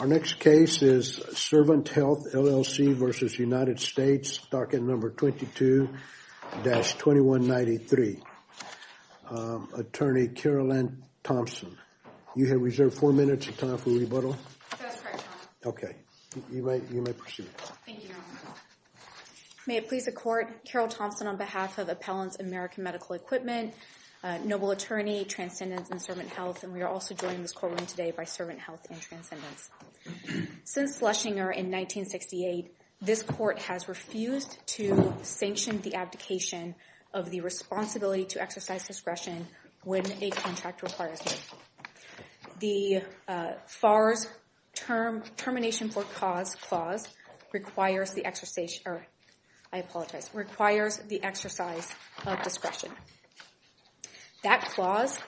Our next case is Servant Health, LLC v. United States, docket number 22-2193. Attorney Carolyn Thompson. You have reserved four minutes of time for rebuttal. That's correct, Your Honor. OK. You may proceed. Thank you, Your Honor. May it please the court, Carol Thompson on behalf of Appellants American Medical Equipment, noble attorney, Transcendence, and Servant Health. And we are also joining this courtroom today by Servant Health and Transcendence. Since Fleshinger in 1968, this court has refused to sanction the abdication of the responsibility to exercise discretion when a contract requires it. The FARS termination for cause clause requires the exercise or, I apologize, requires the exercise of discretion. That clause,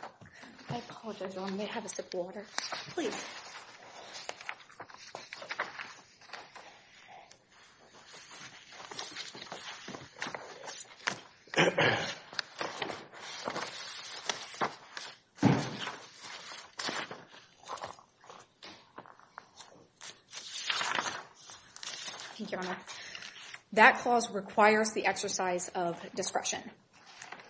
I apologize, Your Honor. May I have a sip of water, please? Thank you, Your Honor. That clause requires the exercise of discretion.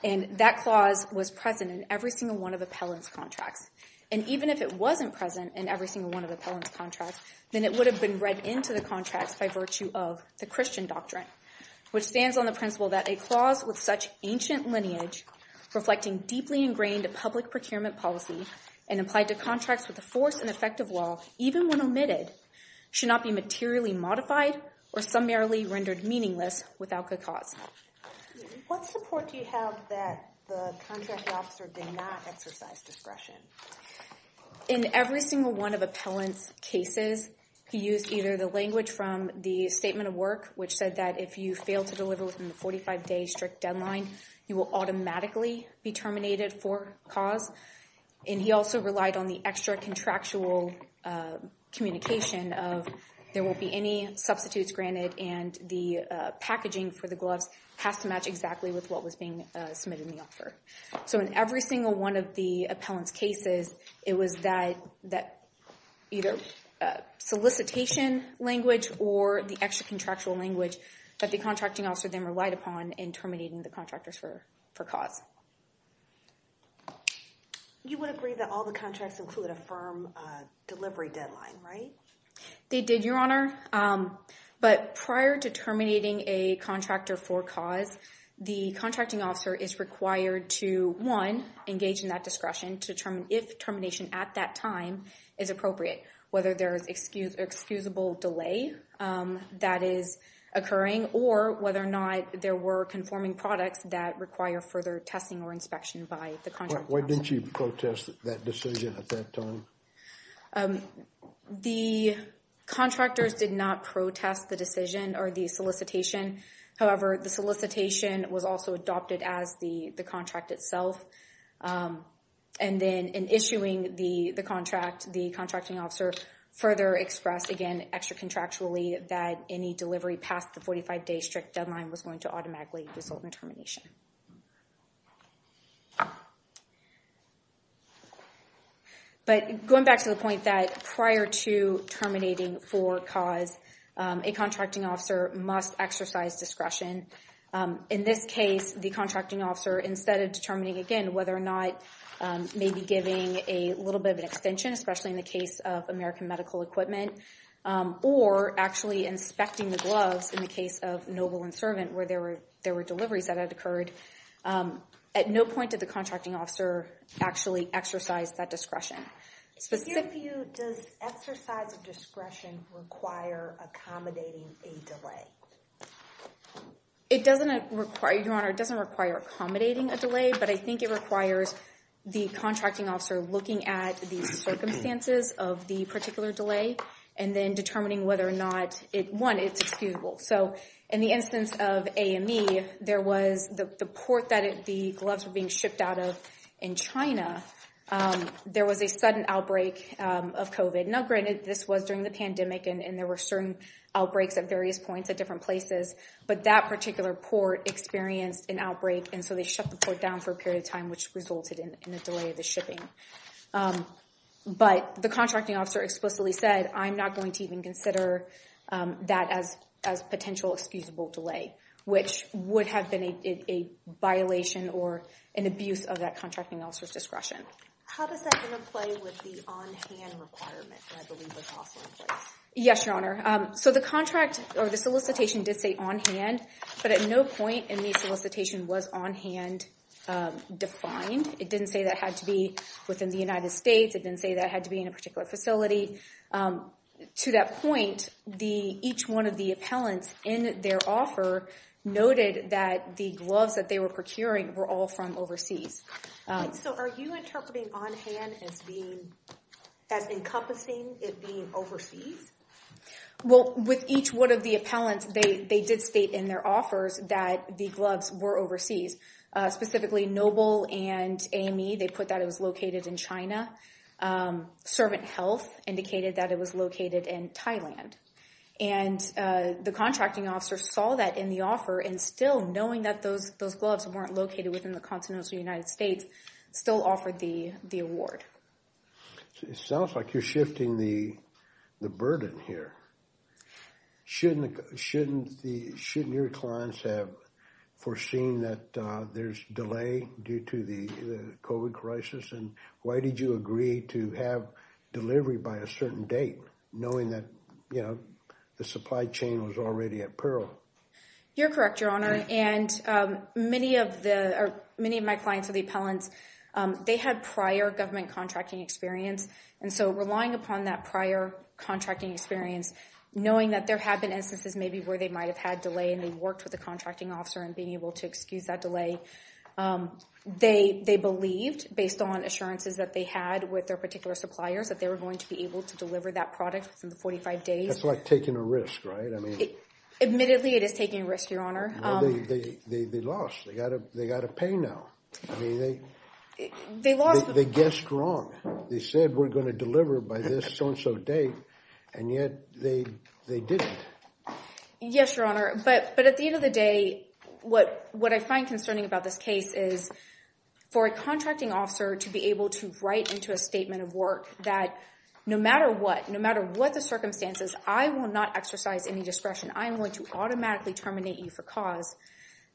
And that clause was present in every single one of Appellant's contracts. And even if it wasn't present in every single one of Appellant's contracts, then it would have been read into the contracts by virtue of the Christian doctrine, which stands on the principle that a clause with such ancient lineage, reflecting deeply ingrained public procurement policy, and applied to contracts with the force and effect of law, even when omitted, should not be materially modified or summarily rendered meaningless without good cause. What support do you have that the contract officer did not exercise discretion? In every single one of Appellant's cases, he used either the language from the statement of work, which said that if you fail to deliver within the 45-day strict deadline, you will automatically be terminated for cause. And he also relied on the extra contractual communication of there won't be any substitutes granted, and the packaging for the gloves has to match exactly with what was being submitted in the offer. So in every single one of the Appellant's cases, it was that either solicitation language or the extra contractual language that the contracting officer then relied upon in terminating the contractors for cause. You would agree that all the contracts include a firm delivery deadline, right? They did, Your Honor. But prior to terminating a contractor for cause, the contracting officer is required to, one, engage in that discretion to determine if termination at that time is appropriate, whether there is excusable delay that is occurring, or whether or not there were conforming products that require further testing or inspection by the contract officer. Why didn't you protest that decision at that time? The contractors did not protest the decision or the solicitation. However, the solicitation was also adopted as the contract itself. And then in issuing the contract, the contracting officer further expressed, again, extra contractually, that any delivery past the 45-day strict deadline was going to automatically result in termination. But going back to the point that prior to terminating for cause, a contracting officer must exercise discretion. In this case, the contracting officer, instead of determining, again, whether or not maybe giving a little bit of an extension, especially in the case of American medical equipment, or actually inspecting the gloves in the case of Noble and Servant, where there were deliveries that had occurred, at no point did the contracting officer actually exercise that discretion. To give you, does exercise of discretion require accommodating a delay? It doesn't require, Your Honor, it doesn't require accommodating a delay. But I think it requires the contracting officer looking at the circumstances of the particular delay and then determining whether or not, one, it's excusable. So in the instance of AME, the port that the gloves were being shipped out of in China, there was a sudden outbreak of COVID. Now, granted, this was during the pandemic, and there were certain outbreaks at various points at different places, but that particular port experienced an outbreak, and so they shut the port down for a period of time, which resulted in a delay of the shipping. But the contracting officer explicitly said, I'm not going to even consider that as a potential excusable delay, which would have been a violation or an abuse of that contracting officer's discretion. How does that interplay with the on-hand requirement, which I believe was also in place? Yes, Your Honor. So the contract or the solicitation did say on-hand, but at no point in the solicitation was on-hand defined. It didn't say that had to be within the United States. It didn't say that had to be in a particular facility. To that point, each one of the appellants in their offer noted that the gloves that they were procuring were all from overseas. So are you interpreting on-hand as encompassing it being overseas? Well, with each one of the appellants, they did state in their offers that the gloves were overseas. Specifically, Noble and Amy, they put that it was located in China. Servant Health indicated that it was located in Thailand. And the contracting officer saw that in the offer, and still knowing that those gloves weren't located within the continental United States, still offered the award. It sounds like you're shifting the burden here. Shouldn't your clients have foreseen that there's delay due to the COVID crisis? And why did you agree to have delivery by a certain date, knowing that the supply chain was already at peril? You're correct, Your Honor. And many of my clients are the appellants. They had prior government contracting experience. And so relying upon that prior contracting experience, knowing that there have been instances maybe where they might have had delay, and they worked with the contracting officer and being able to excuse that delay, they believed, based on assurances that they had with their particular suppliers, that they were going to be able to deliver that product within the 45 days. That's like taking a risk, right? Admittedly, it is taking a risk, Your Honor. They lost. They got to pay now. They lost. They guessed wrong. They said we're going to deliver by this so-and-so date. And yet, they didn't. Yes, Your Honor. But at the end of the day, what I find concerning about this case is for a contracting officer to be able to write into a statement of work that no matter what, no matter what the circumstances, I will not exercise any discretion. I'm going to automatically terminate you for cause.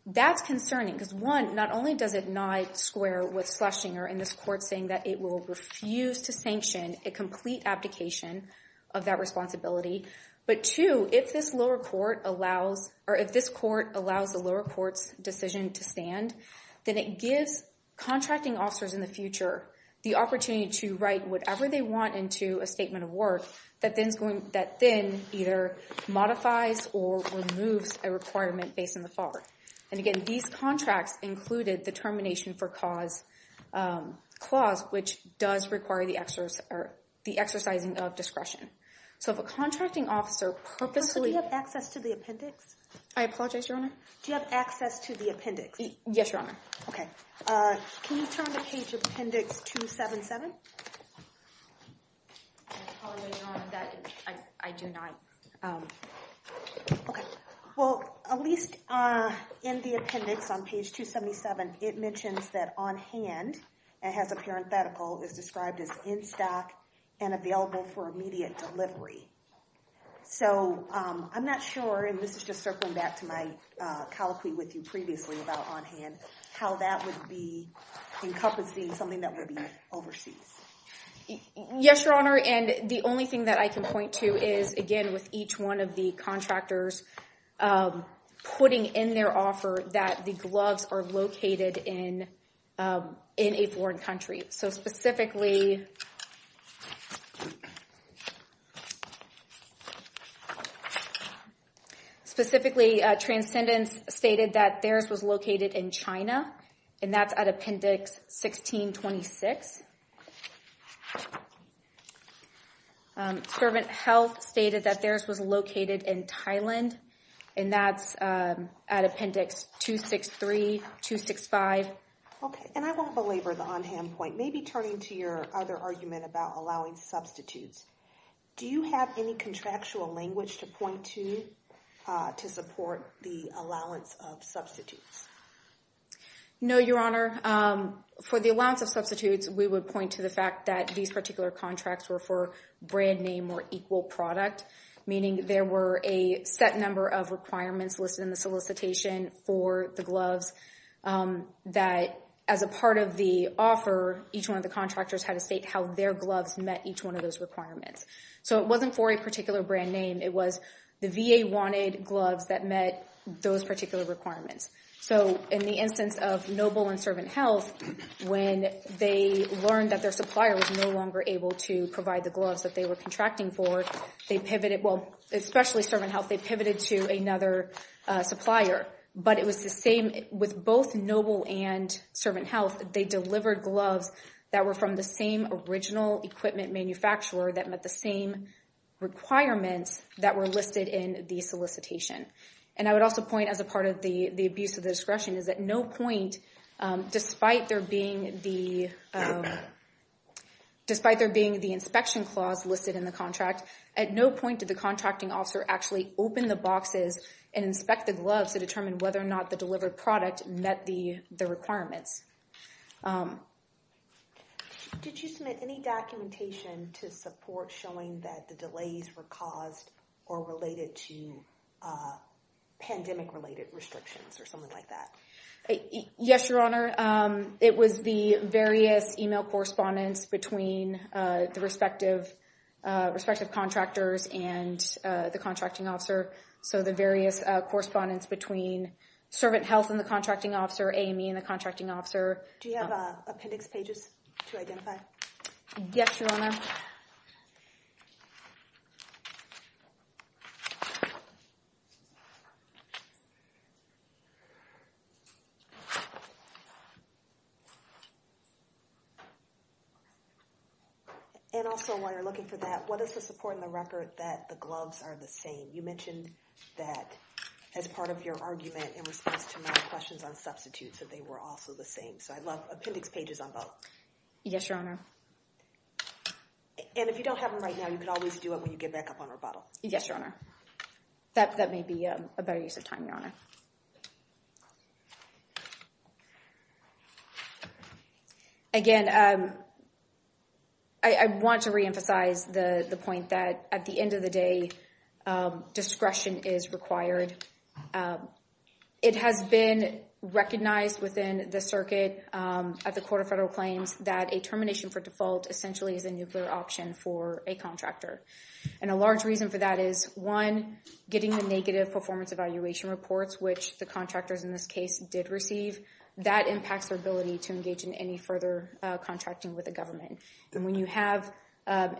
That's concerning, because one, not only does it not square with Schlesinger in this court saying that it will refuse to sanction a complete abdication of that responsibility, but two, if this lower court allows or if this court allows the lower court's decision to stand, then it gives contracting officers in the future the opportunity to write whatever they want into a statement of work that then either modifies or removes a requirement based on the FAR. And again, these contracts included the termination for cause clause, which does require the exercising of discretion. So if a contracting officer purposely Do you have access to the appendix? I apologize, Your Honor. Do you have access to the appendix? Yes, Your Honor. OK. Can you turn to page appendix 277? I apologize, Your Honor. I do not. OK. Well, at least in the appendix on page 277, it mentions that on hand, it has a parenthetical, is described as in stock and available for immediate delivery. So I'm not sure, and this is just circling back to my colloquy with you encompassing something that would be overseas. Yes, Your Honor. And the only thing that I can point to is, again, with each one of the contractors putting in their offer that the gloves are located in a foreign country. So specifically, Transcendence stated that theirs was located in China. And that's at appendix 1626. Servant Health stated that theirs was located in Thailand. And that's at appendix 263, 265. OK, and I won't belabor the on hand point. Maybe turning to your other argument about allowing substitutes. Do you have any contractual language to point to to support the allowance of substitutes? No, Your Honor. For the allowance of substitutes, we would point to the fact that these particular contracts were for brand name or equal product. Meaning there were a set number of requirements listed in the solicitation for the gloves that as a part of the offer, each one of the contractors had to state how their gloves met each one of those requirements. So it wasn't for a particular brand name. The VA wanted gloves that met those particular requirements. So in the instance of Noble and Servant Health, when they learned that their supplier was no longer able to provide the gloves that they were contracting for, they pivoted. Well, especially Servant Health, they pivoted to another supplier. But it was the same with both Noble and Servant Health. They delivered gloves that were from the same original equipment manufacturer that met the same requirements that were listed in the solicitation. And I would also point as a part of the abuse of discretion is at no point, despite there being the inspection clause listed in the contract, at no point did the contracting officer actually open the boxes and inspect the gloves to determine whether or not the delivered product met the requirements. Did you submit any documentation to support showing that the delays were caused or related to pandemic-related restrictions or something like that? Yes, Your Honor. It was the various email correspondence between the respective contractors and the contracting officer. So the various correspondence between Servant Health and the contracting officer, A&E and the contracting officer, Do you have appendix pages to identify? Yes, Your Honor. And also, while you're looking for that, what is the support in the record that the gloves are the same? You mentioned that as part of your argument in response to my questions on substitutes that they were also the same. So I'd love appendix pages on both. Yes, Your Honor. And if you don't have them right now, you can always do it when you get back up on rebuttal. Yes, Your Honor. That may be a better use of time, Your Honor. Again, I want to reemphasize the point that at the end of the day, discretion is required. It has been recognized within the circuit at the Court of Federal Claims that a termination for default essentially is a nuclear option for a contractor. And a large reason for that is, one, getting the negative performance evaluation reports, which the contractors in this case did receive, that impacts their ability to engage in any further contracting with the government. And when you have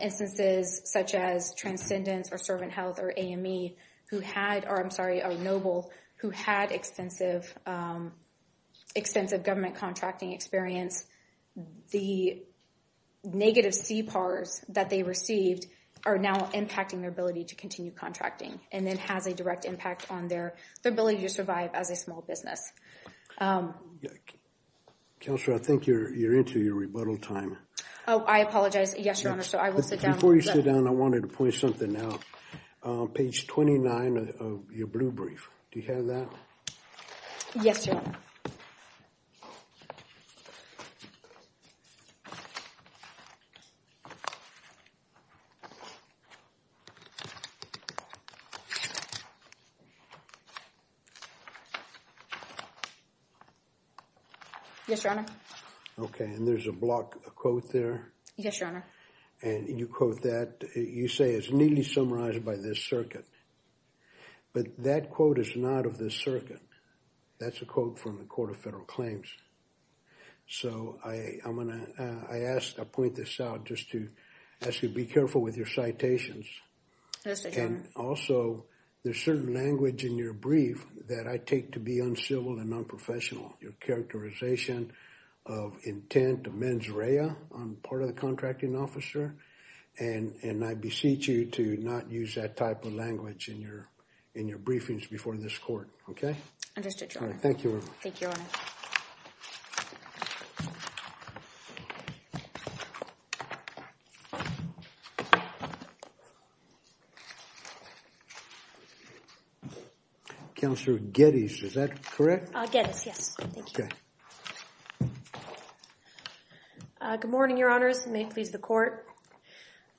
instances such as Transcendence or Servant Health or AME who had, or I'm sorry, or Noble, who had extensive government contracting experience, the negative CPARs that they received are now impacting their ability to continue contracting, and then has a direct impact on their ability to survive as a small business. Counselor, I think you're into your rebuttal time. Oh, I apologize. Yes, Your Honor, so I will sit down. Before you sit down, I wanted to point something out, page 29 of your blue brief. Do you have that? Yes, Your Honor. Yes, Your Honor. OK, and there's a block quote there. Yes, Your Honor. And you quote that, you say, it's neatly summarized by this circuit. But that quote is not of this circuit. That's a quote from the Court of Federal Claims. So I'm going to, I ask, I point this out just to ask you to be careful with your citations. Yes, Your Honor. And also, there's certain language in your brief that I take to be uncivil and unprofessional. Your characterization of intent, of mens rea on part of the contracting officer, and I beseech you to not use that type of language in your briefings before this court. OK? Understood, Your Honor. Thank you. Thank you, Your Honor. Counselor Geddes, is that correct? Geddes, yes. Thank you. OK. Good morning, Your Honors. May it please the court.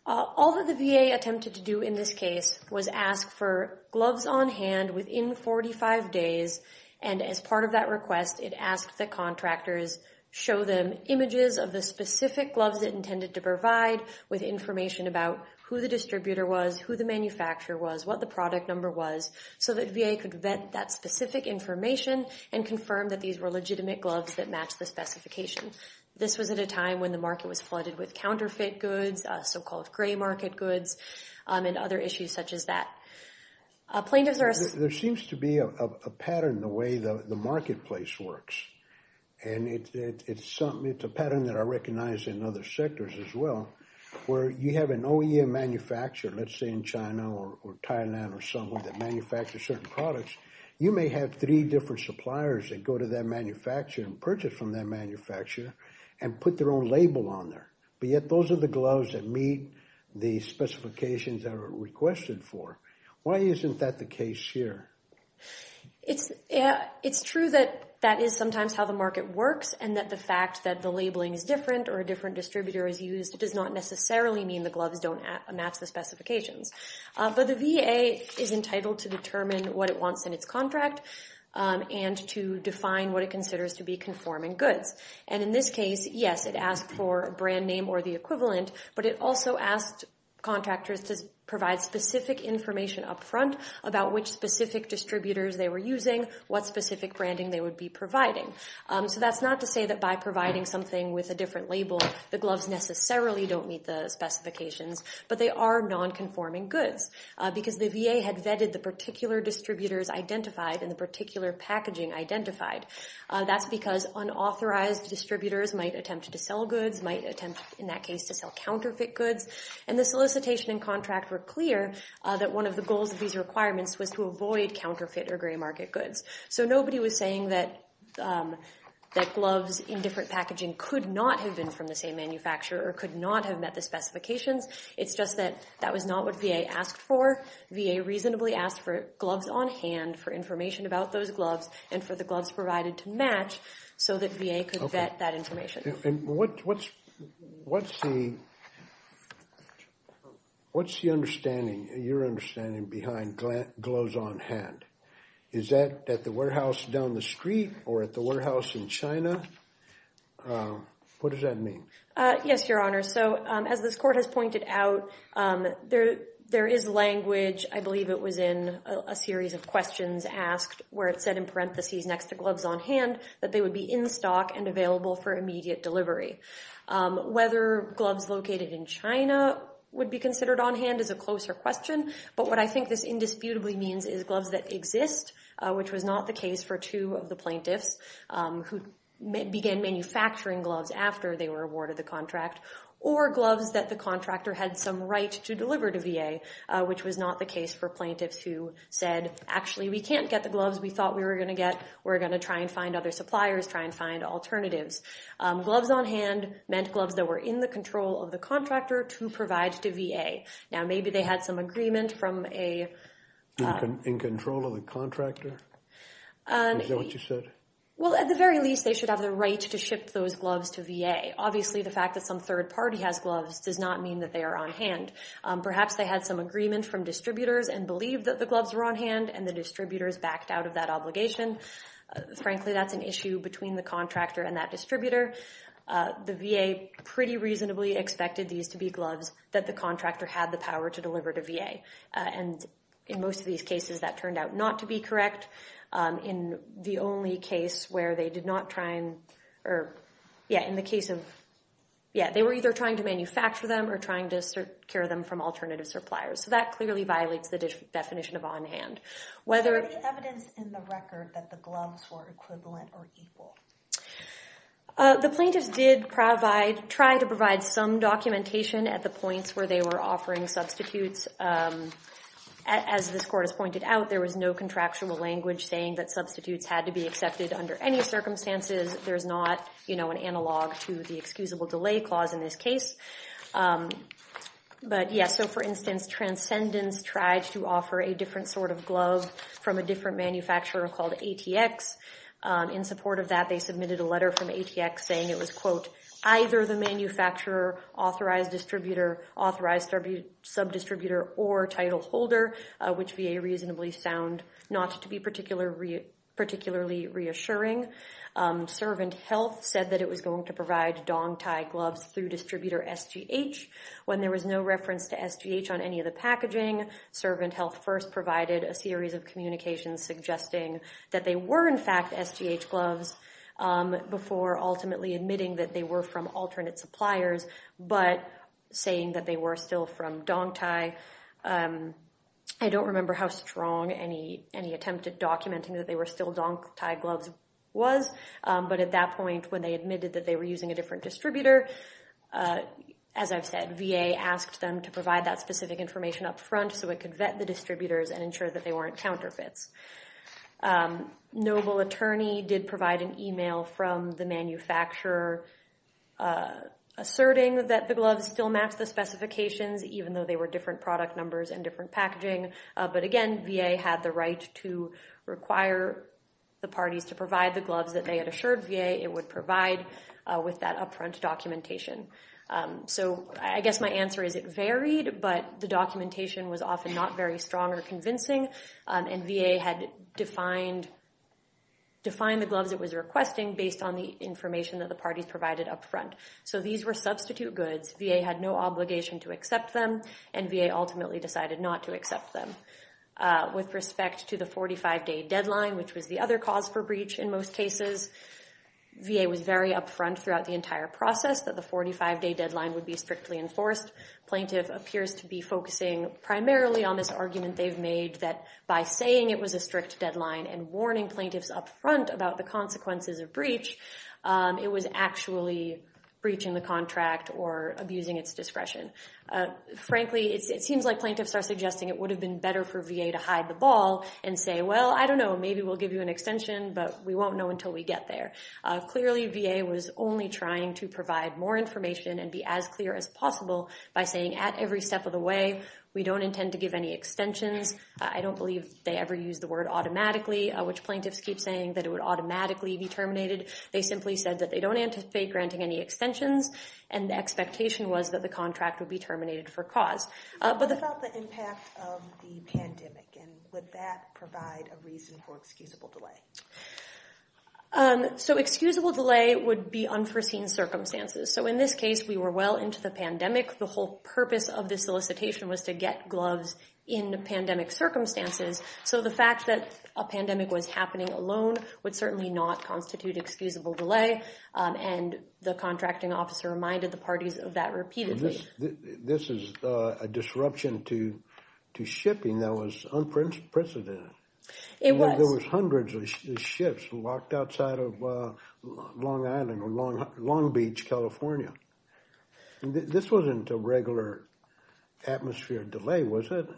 All that the VA attempted to do in this case was ask for gloves on hand within 45 days. And as part of that request, it asked the contractors show them images of the specific gloves that intended to provide with information about who the distributor was, who the manufacturer was, what the product number was, so that VA could vet that specific information and confirm that these were legitimate gloves that matched the specification. This was at a time when the market was flooded with counterfeit goods, so-called gray market goods, and other issues such as that. Plaintiffs are asking. There seems to be a pattern in the way that the marketplace works. And it's a pattern that I recognize in other sectors as well, where you have an OEM manufacturer, let's say in China or Thailand or somewhere, that manufactures certain products. You may have three different suppliers that go to that manufacturer and purchase from that manufacturer and put their own label on there. But yet, those are the gloves that meet the specifications that are requested for. Why isn't that the case here? It's true that that is sometimes how the market works and that the fact that the labeling is different or a different distributor is used does not necessarily mean the gloves don't match the specifications. But the VA is entitled to determine what it wants in its contract and to define what it considers to be conforming goods. And in this case, yes, it asked for a brand name or the equivalent, but it also asked contractors to provide specific information up front about which specific distributors they were using, what specific branding they would be providing. So that's not to say that by providing something with a different label, the gloves necessarily don't meet the specifications, but they are non-conforming goods because the VA had vetted the particular distributors identified and the particular packaging identified. That's because unauthorized distributors might attempt to sell goods, might attempt in that case to sell counterfeit goods. And the solicitation and contract were clear that one of the goals of these requirements was to avoid counterfeit or gray market goods. So nobody was saying that gloves in different packaging could not have been from the same manufacturer or could not have met the specifications. It's just that that was not what VA asked for. VA reasonably asked for gloves on hand for information about those gloves and for the gloves provided to match so that VA could vet that information. And what's the understanding, your understanding behind gloves on hand? Is that at the warehouse down the street or at the warehouse in China? What does that mean? Yes, Your Honor. So as this court has pointed out, there is language, I believe it was in a series of questions asked where it said in parentheses next to gloves on hand that they would be in stock and available for immediate delivery. Whether gloves located in China would be considered on hand is a closer question. But what I think this indisputably means is gloves that exist, which was not the case for two of the plaintiffs who began manufacturing gloves after they were awarded the contract or gloves that the contractor had some right to deliver to VA, which was not the case for plaintiffs who said, actually, we can't get the gloves we thought we were going to get. We're going to try and find other suppliers, try and find alternatives. Gloves on hand meant gloves that were in the control of the contractor to provide to VA. Now, maybe they had some agreement from a... In control of the contractor? Is that what you said? Well, at the very least, they should have the right to ship those gloves to VA. Obviously, the fact that some third party has gloves does not mean that they are on hand. Perhaps they had some agreement from distributors and believed that the gloves were on hand and the distributors backed out of that obligation. Frankly, that's an issue between the contractor and that distributor. The VA pretty reasonably expected these to be gloves that the contractor had the power to deliver to VA. And in most of these cases, that turned out not to be correct. In the only case where they did not try and... Or yeah, in the case of... Yeah, they were either trying to manufacture them or trying to secure them from alternative suppliers. So that clearly violates the definition of on hand. Whether... Are there any evidence in the record that the gloves were equivalent or equal? The plaintiffs did try to provide some documentation at the points where they were offering substitutes. As this court has pointed out, there was no contractual language saying that substitutes had to be accepted under any circumstances. There's not an analog to the excusable delay clause in this case. But yeah, so for instance, Transcendence tried to offer a different sort of glove from a different manufacturer called ATX. In support of that, they submitted a letter from ATX saying it was, quote, either the manufacturer, authorized distributor, authorized subdistributor, or title holder, which VA reasonably found not to be particularly reassuring. Servant Health said that it was going to provide Dong Thai gloves through distributor SGH. When there was no reference to SGH on any of the packaging, Servant Health first provided a series of communications suggesting that they were in fact SGH gloves before ultimately admitting that they were from alternate suppliers, but saying that they were still from Dong Thai. I don't remember how strong any attempt at documenting that they were still Dong Thai gloves was, but at that point when they admitted that they were using a different distributor, as I've said, VA asked them to provide that specific information upfront so it could vet the distributors and ensure that they weren't counterfeits. Noble Attorney did provide an email from the manufacturer asserting that the gloves still match the specifications even though they were different product numbers and different packaging. But again, VA had the right to require the parties to provide the gloves that they had assured VA it would provide with that upfront documentation. So I guess my answer is it varied, but the documentation was often not very strong or convincing, and VA had defined the gloves it was requesting based on the information that the parties provided upfront. So these were substitute goods. VA had no obligation to accept them, and VA ultimately decided not to accept them. With respect to the 45-day deadline, which was the other cause for breach in most cases, VA was very upfront throughout the entire process that the 45-day deadline would be strictly enforced. Plaintiff appears to be focusing primarily on this argument they've made that by saying it was a strict deadline and warning plaintiffs upfront about the consequences of breach, it was actually breaching the contract or abusing its discretion. Frankly, it seems like plaintiffs are suggesting it would have been better for VA to hide the ball and say, well, I don't know, maybe we'll give you an extension, but we won't know until we get there. Clearly, VA was only trying to provide more information and be as clear as possible by saying at every step of the way, we don't intend to give any extensions. I don't believe they ever used the word automatically, which plaintiffs keep saying that it would automatically be terminated. They simply said that they don't anticipate granting any extensions, and the expectation was that the contract would be terminated for cause. But the- What about the impact of the pandemic? And would that provide a reason for excusable delay? So excusable delay would be unforeseen circumstances. So in this case, we were well into the pandemic. The whole purpose of this solicitation was to get gloves in pandemic circumstances. So the fact that a pandemic was happening alone would certainly not constitute excusable delay. And the contracting officer reminded the parties of that repeatedly. This is a disruption to shipping that was unprecedented. It was. There was hundreds of ships locked outside of Long Island, or Long Beach, California. This wasn't a regular atmosphere delay, was it?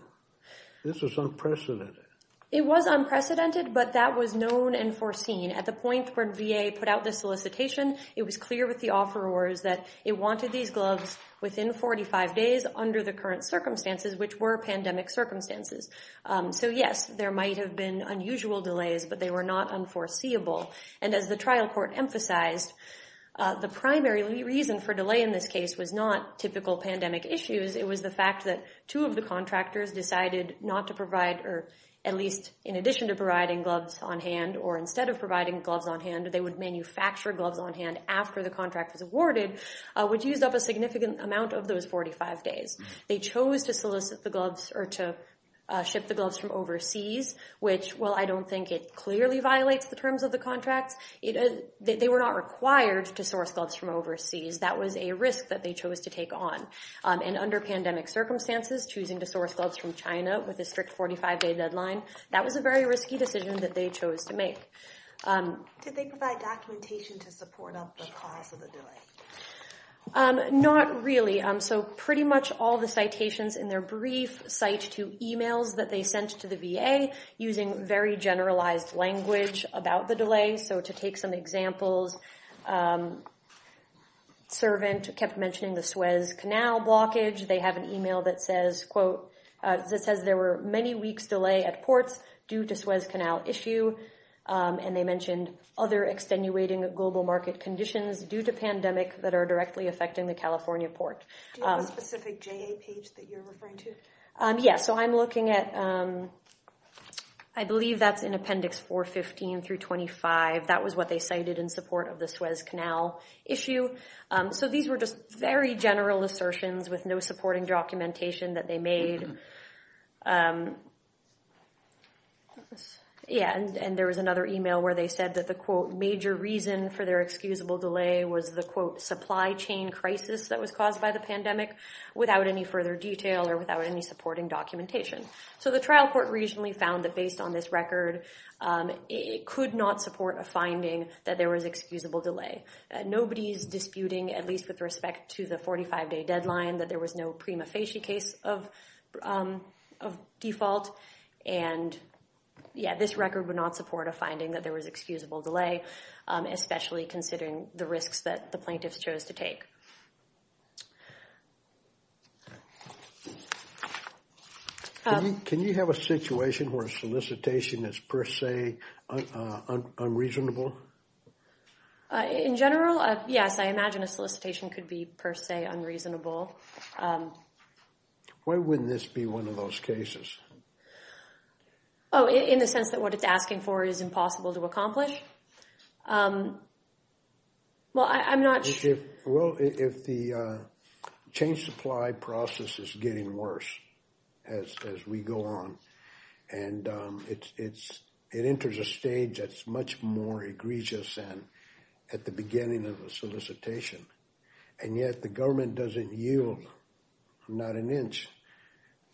This was unprecedented. It was unprecedented, but that was known and foreseen. At the point where VA put out the solicitation, it was clear with the offerors that it wanted these gloves within 45 days under the current circumstances, which were pandemic circumstances. So yes, there might have been unusual delays, but they were not unforeseeable. And as the trial court emphasized, the primary reason for delay in this case was not typical pandemic issues. It was the fact that two of the contractors decided not to provide, or at least in addition to providing gloves on hand, or instead of providing gloves on hand, they would manufacture gloves on hand after the contract was awarded, which used up a significant amount of those 45 days. They chose to solicit the gloves or to ship the gloves from overseas, which, while I don't think it clearly violates the terms of the contracts, they were not required to source gloves from overseas. That was a risk that they chose to take on. And under pandemic circumstances, choosing to source gloves from China with a strict 45-day deadline, that was a very risky decision that they chose to make. Did they provide documentation to support up the cause of the delay? Not really. So pretty much all the citations in their brief cite to emails that they sent to the VA using very generalized language about the delay. So to take some examples, servant kept mentioning the Suez Canal blockage. They have an email that says, quote, that says there were many weeks delay at ports due to Suez Canal issue. And they mentioned other extenuating global market conditions due to pandemic that are directly affecting the California port. Do you have a specific JA page that you're referring to? Yeah, so I'm looking at, I believe that's in appendix 415 through 25. That was what they cited in support of the Suez Canal issue. So these were just very general assertions with no supporting documentation that they made. Yeah, and there was another email where they said that the, quote, major reason for their excusable delay was the, quote, supply chain crisis that was caused by the pandemic without any further detail or without any supporting documentation. So the trial court recently found that based on this record, it could not support a finding that there was excusable delay. Nobody's disputing, at least with respect to the 45-day deadline, that there was no prima facie case of default. And yeah, this record would not support a finding that there was excusable delay, especially considering the risks that the plaintiffs chose to take. Can you have a situation where a solicitation is per se unreasonable? In general, yes. I imagine a solicitation could be per se unreasonable. Why wouldn't this be one of those cases? Oh, in the sense that what it's asking for is impossible to accomplish? Well, I'm not sure. Well, if the chain supply process is getting worse as we go on, and it enters a stage that's much more egregious at the beginning of a solicitation, and yet the government doesn't yield not an inch,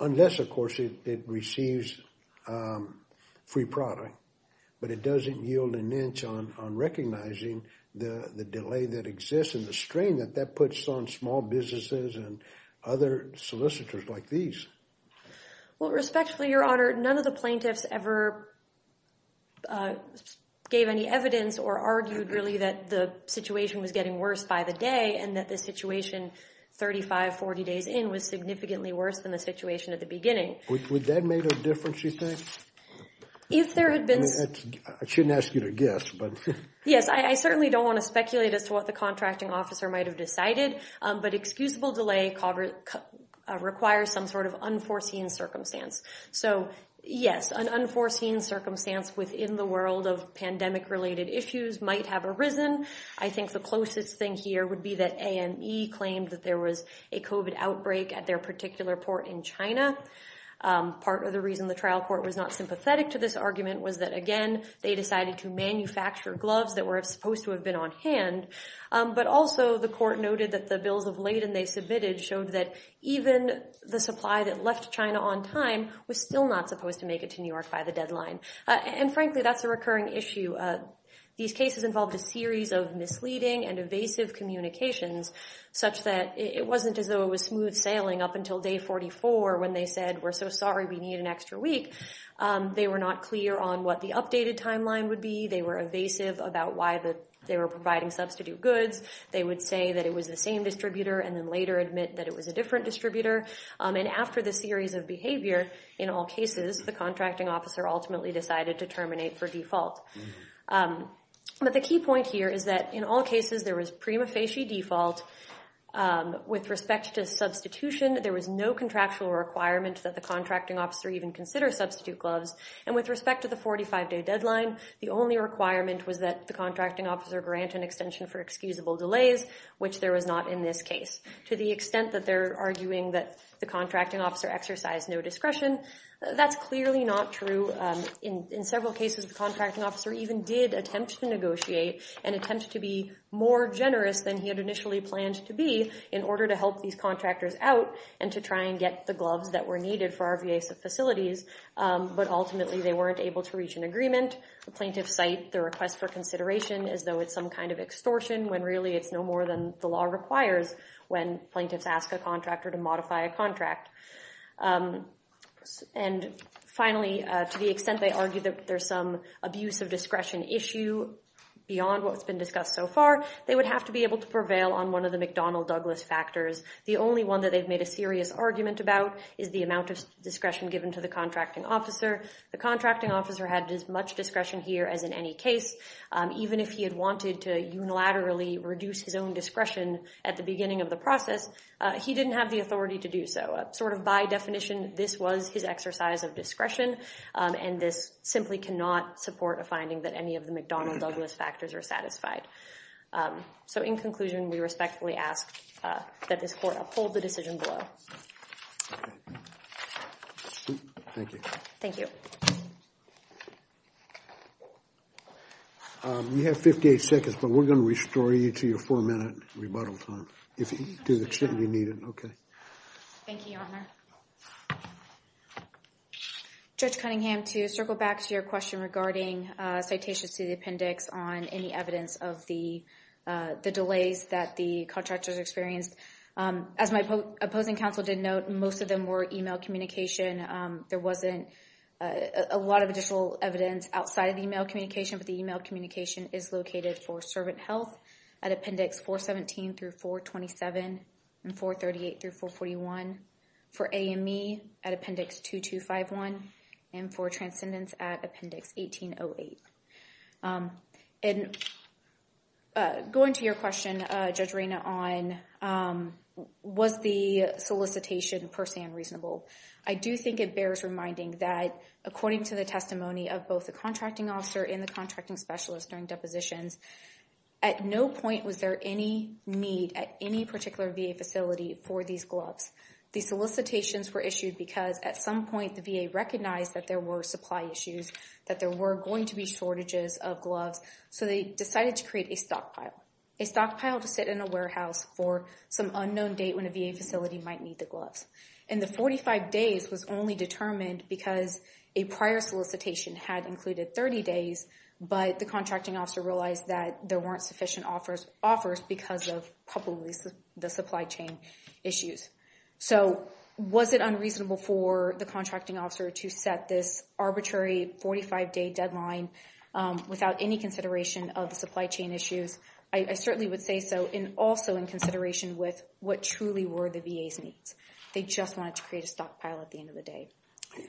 unless, of course, it receives free product. But it doesn't yield an inch on recognizing the delay that exists and the strain that that puts on small businesses and other solicitors like these. Well, respectfully, Your Honor, none of the plaintiffs ever gave any evidence or argued really that the situation was getting worse by the day and that the situation 35, 40 days in was significantly worse than the situation at the beginning. Would that make a difference, you think? If there had been... I shouldn't ask you to guess, but... Yes, I certainly don't want to speculate as to what the contracting officer might have decided, but excusable delay requires some sort of unforeseen circumstance. So, yes, an unforeseen circumstance within the world of pandemic-related issues might have arisen. I think the closest thing here would be that AME claimed that there was a COVID outbreak at their particular port in China. Part of the reason the trial court was not sympathetic to this argument was that, again, they decided to manufacture gloves that were supposed to have been on hand. But also, the court noted that the bills of Leyden they submitted showed that even the supply that left China on time was still not supposed to make it to New York by the deadline. And frankly, that's a recurring issue. These cases involved a series of misleading and evasive communications, such that it wasn't as though it was smooth sailing up until day 44 when they said, we're so sorry, we need an extra week. They were not clear on what the updated timeline would be. They were evasive about why they were providing substitute goods. They would say that it was the same distributor and then later admit that it was a different distributor. And after the series of behavior, in all cases, the contracting officer ultimately decided to terminate for default. But the key point here is that in all cases there was prima facie default. With respect to substitution, there was no contractual requirement that the contracting officer even consider substitute gloves and with respect to the 45-day deadline, the only requirement was that the contracting officer grant an extension for excusable delays, which there was not in this case. To the extent that they're arguing that the contracting officer exercised no discretion, that's clearly not true. In several cases, the contracting officer even did attempt to negotiate and attempt to be more generous than he had initially planned to be in order to help these contractors out and to try and get the gloves that were needed for our VA facilities, but ultimately they weren't able to reach an agreement. The plaintiffs cite the request for consideration as though it's some kind of extortion when really it's no more than the law requires when plaintiffs ask a contractor to modify a contract. And finally, to the extent they argue that there's some abuse of discretion issue beyond what's been discussed so far, they would have to be able to prevail on one of the McDonnell-Douglas factors. The only one that they've made a serious argument about is the amount of discretion given to the contracting officer. The contracting officer had as much discretion here as in any case, even if he had wanted to unilaterally reduce his own discretion at the beginning of the process, he didn't have the authority to do so. Sort of by definition, this was his exercise of discretion and this simply cannot support a finding that any of the McDonnell-Douglas factors are satisfied. So in conclusion, we respectfully ask that this court uphold the decision below. Thank you. Thank you. You have 58 seconds, but we're gonna restore you to your four minute rebuttal time if to the extent we need it, okay. Thank you, Your Honor. Judge Cunningham, to circle back to your question regarding citations to the appendix on any evidence of the delays that the contractors experienced. As my opposing counsel did note, most of them were email communication. There wasn't a lot of additional evidence outside of the email communication, but the email communication is located for Servant Health at appendix 417 through 427 and 438 through 441, for AME at appendix 2251 and for Transcendence at appendix 1808. And going to your question, Judge Reyna, on was the solicitation per se unreasonable, I do think it bears reminding that according to the testimony of both the contracting officer and the contracting specialist during depositions, at no point was there any need at any particular VA facility for these gloves. These solicitations were issued because at some point the VA recognized that there were supply issues, that there were going to be shortages of gloves, so they decided to create a stockpile. A stockpile to sit in a warehouse for some unknown date when a VA facility might need the gloves. And the 45 days was only determined because a prior solicitation had included 30 days, but the contracting officer realized that there weren't sufficient offers because of probably the supply chain issues. So was it unreasonable for the contracting officer to set this arbitrary 45 day deadline without any consideration of the supply chain issues? I certainly would say so, and also in consideration with what truly were the VA's needs. They just wanted to create a stockpile at the end of the day.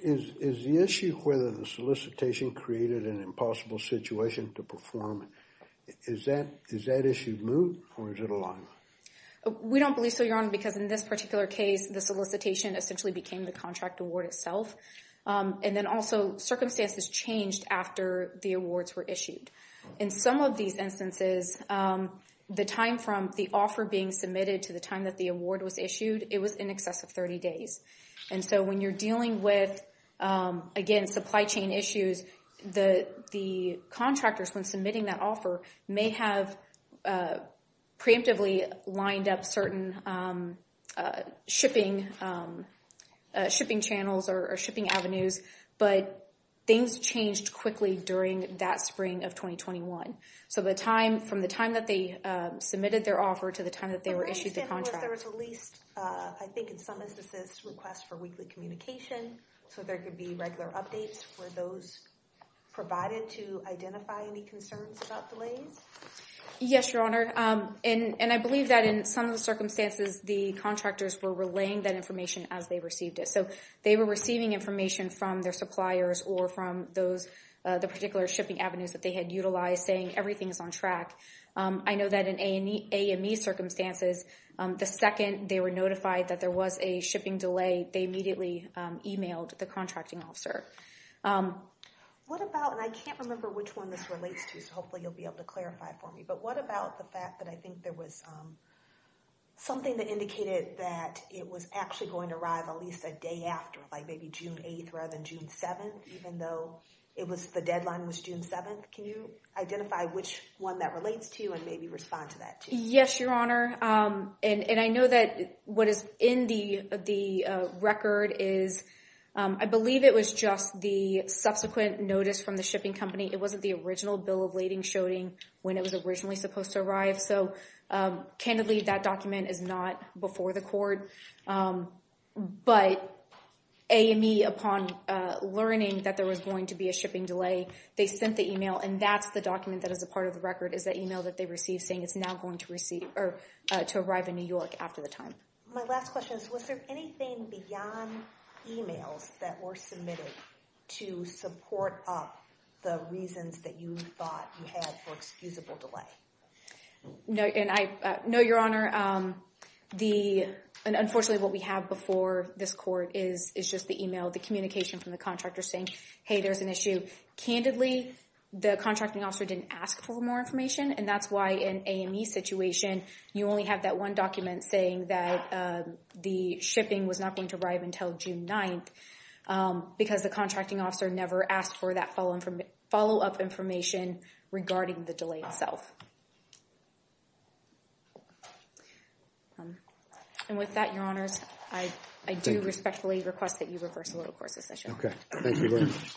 Is the issue of whether the solicitation created an impossible situation to perform, does that issue move or is it a long one? We don't believe so, Your Honor, because in this particular case, the solicitation essentially became the contract award itself. And then also circumstances changed after the awards were issued. In some of these instances, the time from the offer being submitted to the time that the award was issued, it was in excess of 30 days. And so when you're dealing with, again, supply chain issues, the contractors, when submitting that offer, may have preemptively lined up certain shipping channels or shipping avenues, but things changed quickly during that spring of 2021. So from the time that they submitted their offer to the time that they were issued the contract. But for example, if there was at least, I think in some instances, requests for weekly communication, so there could be regular updates for those provided to identify any concerns about delays. Yes, Your Honor. And I believe that in some of the circumstances, the contractors were relaying that information as they received it. So they were receiving information from their suppliers or from the particular shipping avenues that they had utilized saying everything is on track. I know that in AME circumstances, the second they were notified that there was a shipping delay, they immediately emailed the contracting officer. What about, and I can't remember which one this relates to, so hopefully you'll be able to clarify for me, but what about the fact that I think there was something that indicated that it was actually going to arrive at least a day after, like maybe June 8th rather than June 7th, even though the deadline was June 7th? Can you identify which one that relates to you and maybe respond to that too? Yes, Your Honor. And I know that what is in the record is, I believe it was just the subsequent notice from the shipping company. It wasn't the original bill of lading showing when it was originally supposed to arrive. So candidly, that document is not before the court, but AME upon learning that there was going to be a shipping delay, they sent the email, and that's the document that is a part of the record is that email that they received saying it's now going to arrive in New York after the time. My last question is, was there anything beyond emails that were submitted to support up the reasons that you thought you had for excusable delay? No, Your Honor. And unfortunately, what we have before this court is just the email, the communication from the contractor saying, hey, there's an issue. Candidly, the contracting officer didn't ask for more information, and that's why in AME situation, you only have that one document saying that the shipping was not going to arrive until June 9th, because the contracting officer never asked for that follow-up information regarding the delay itself. And with that, Your Honors, I do respectfully request that you reverse a little course of session. Okay, thank you very much.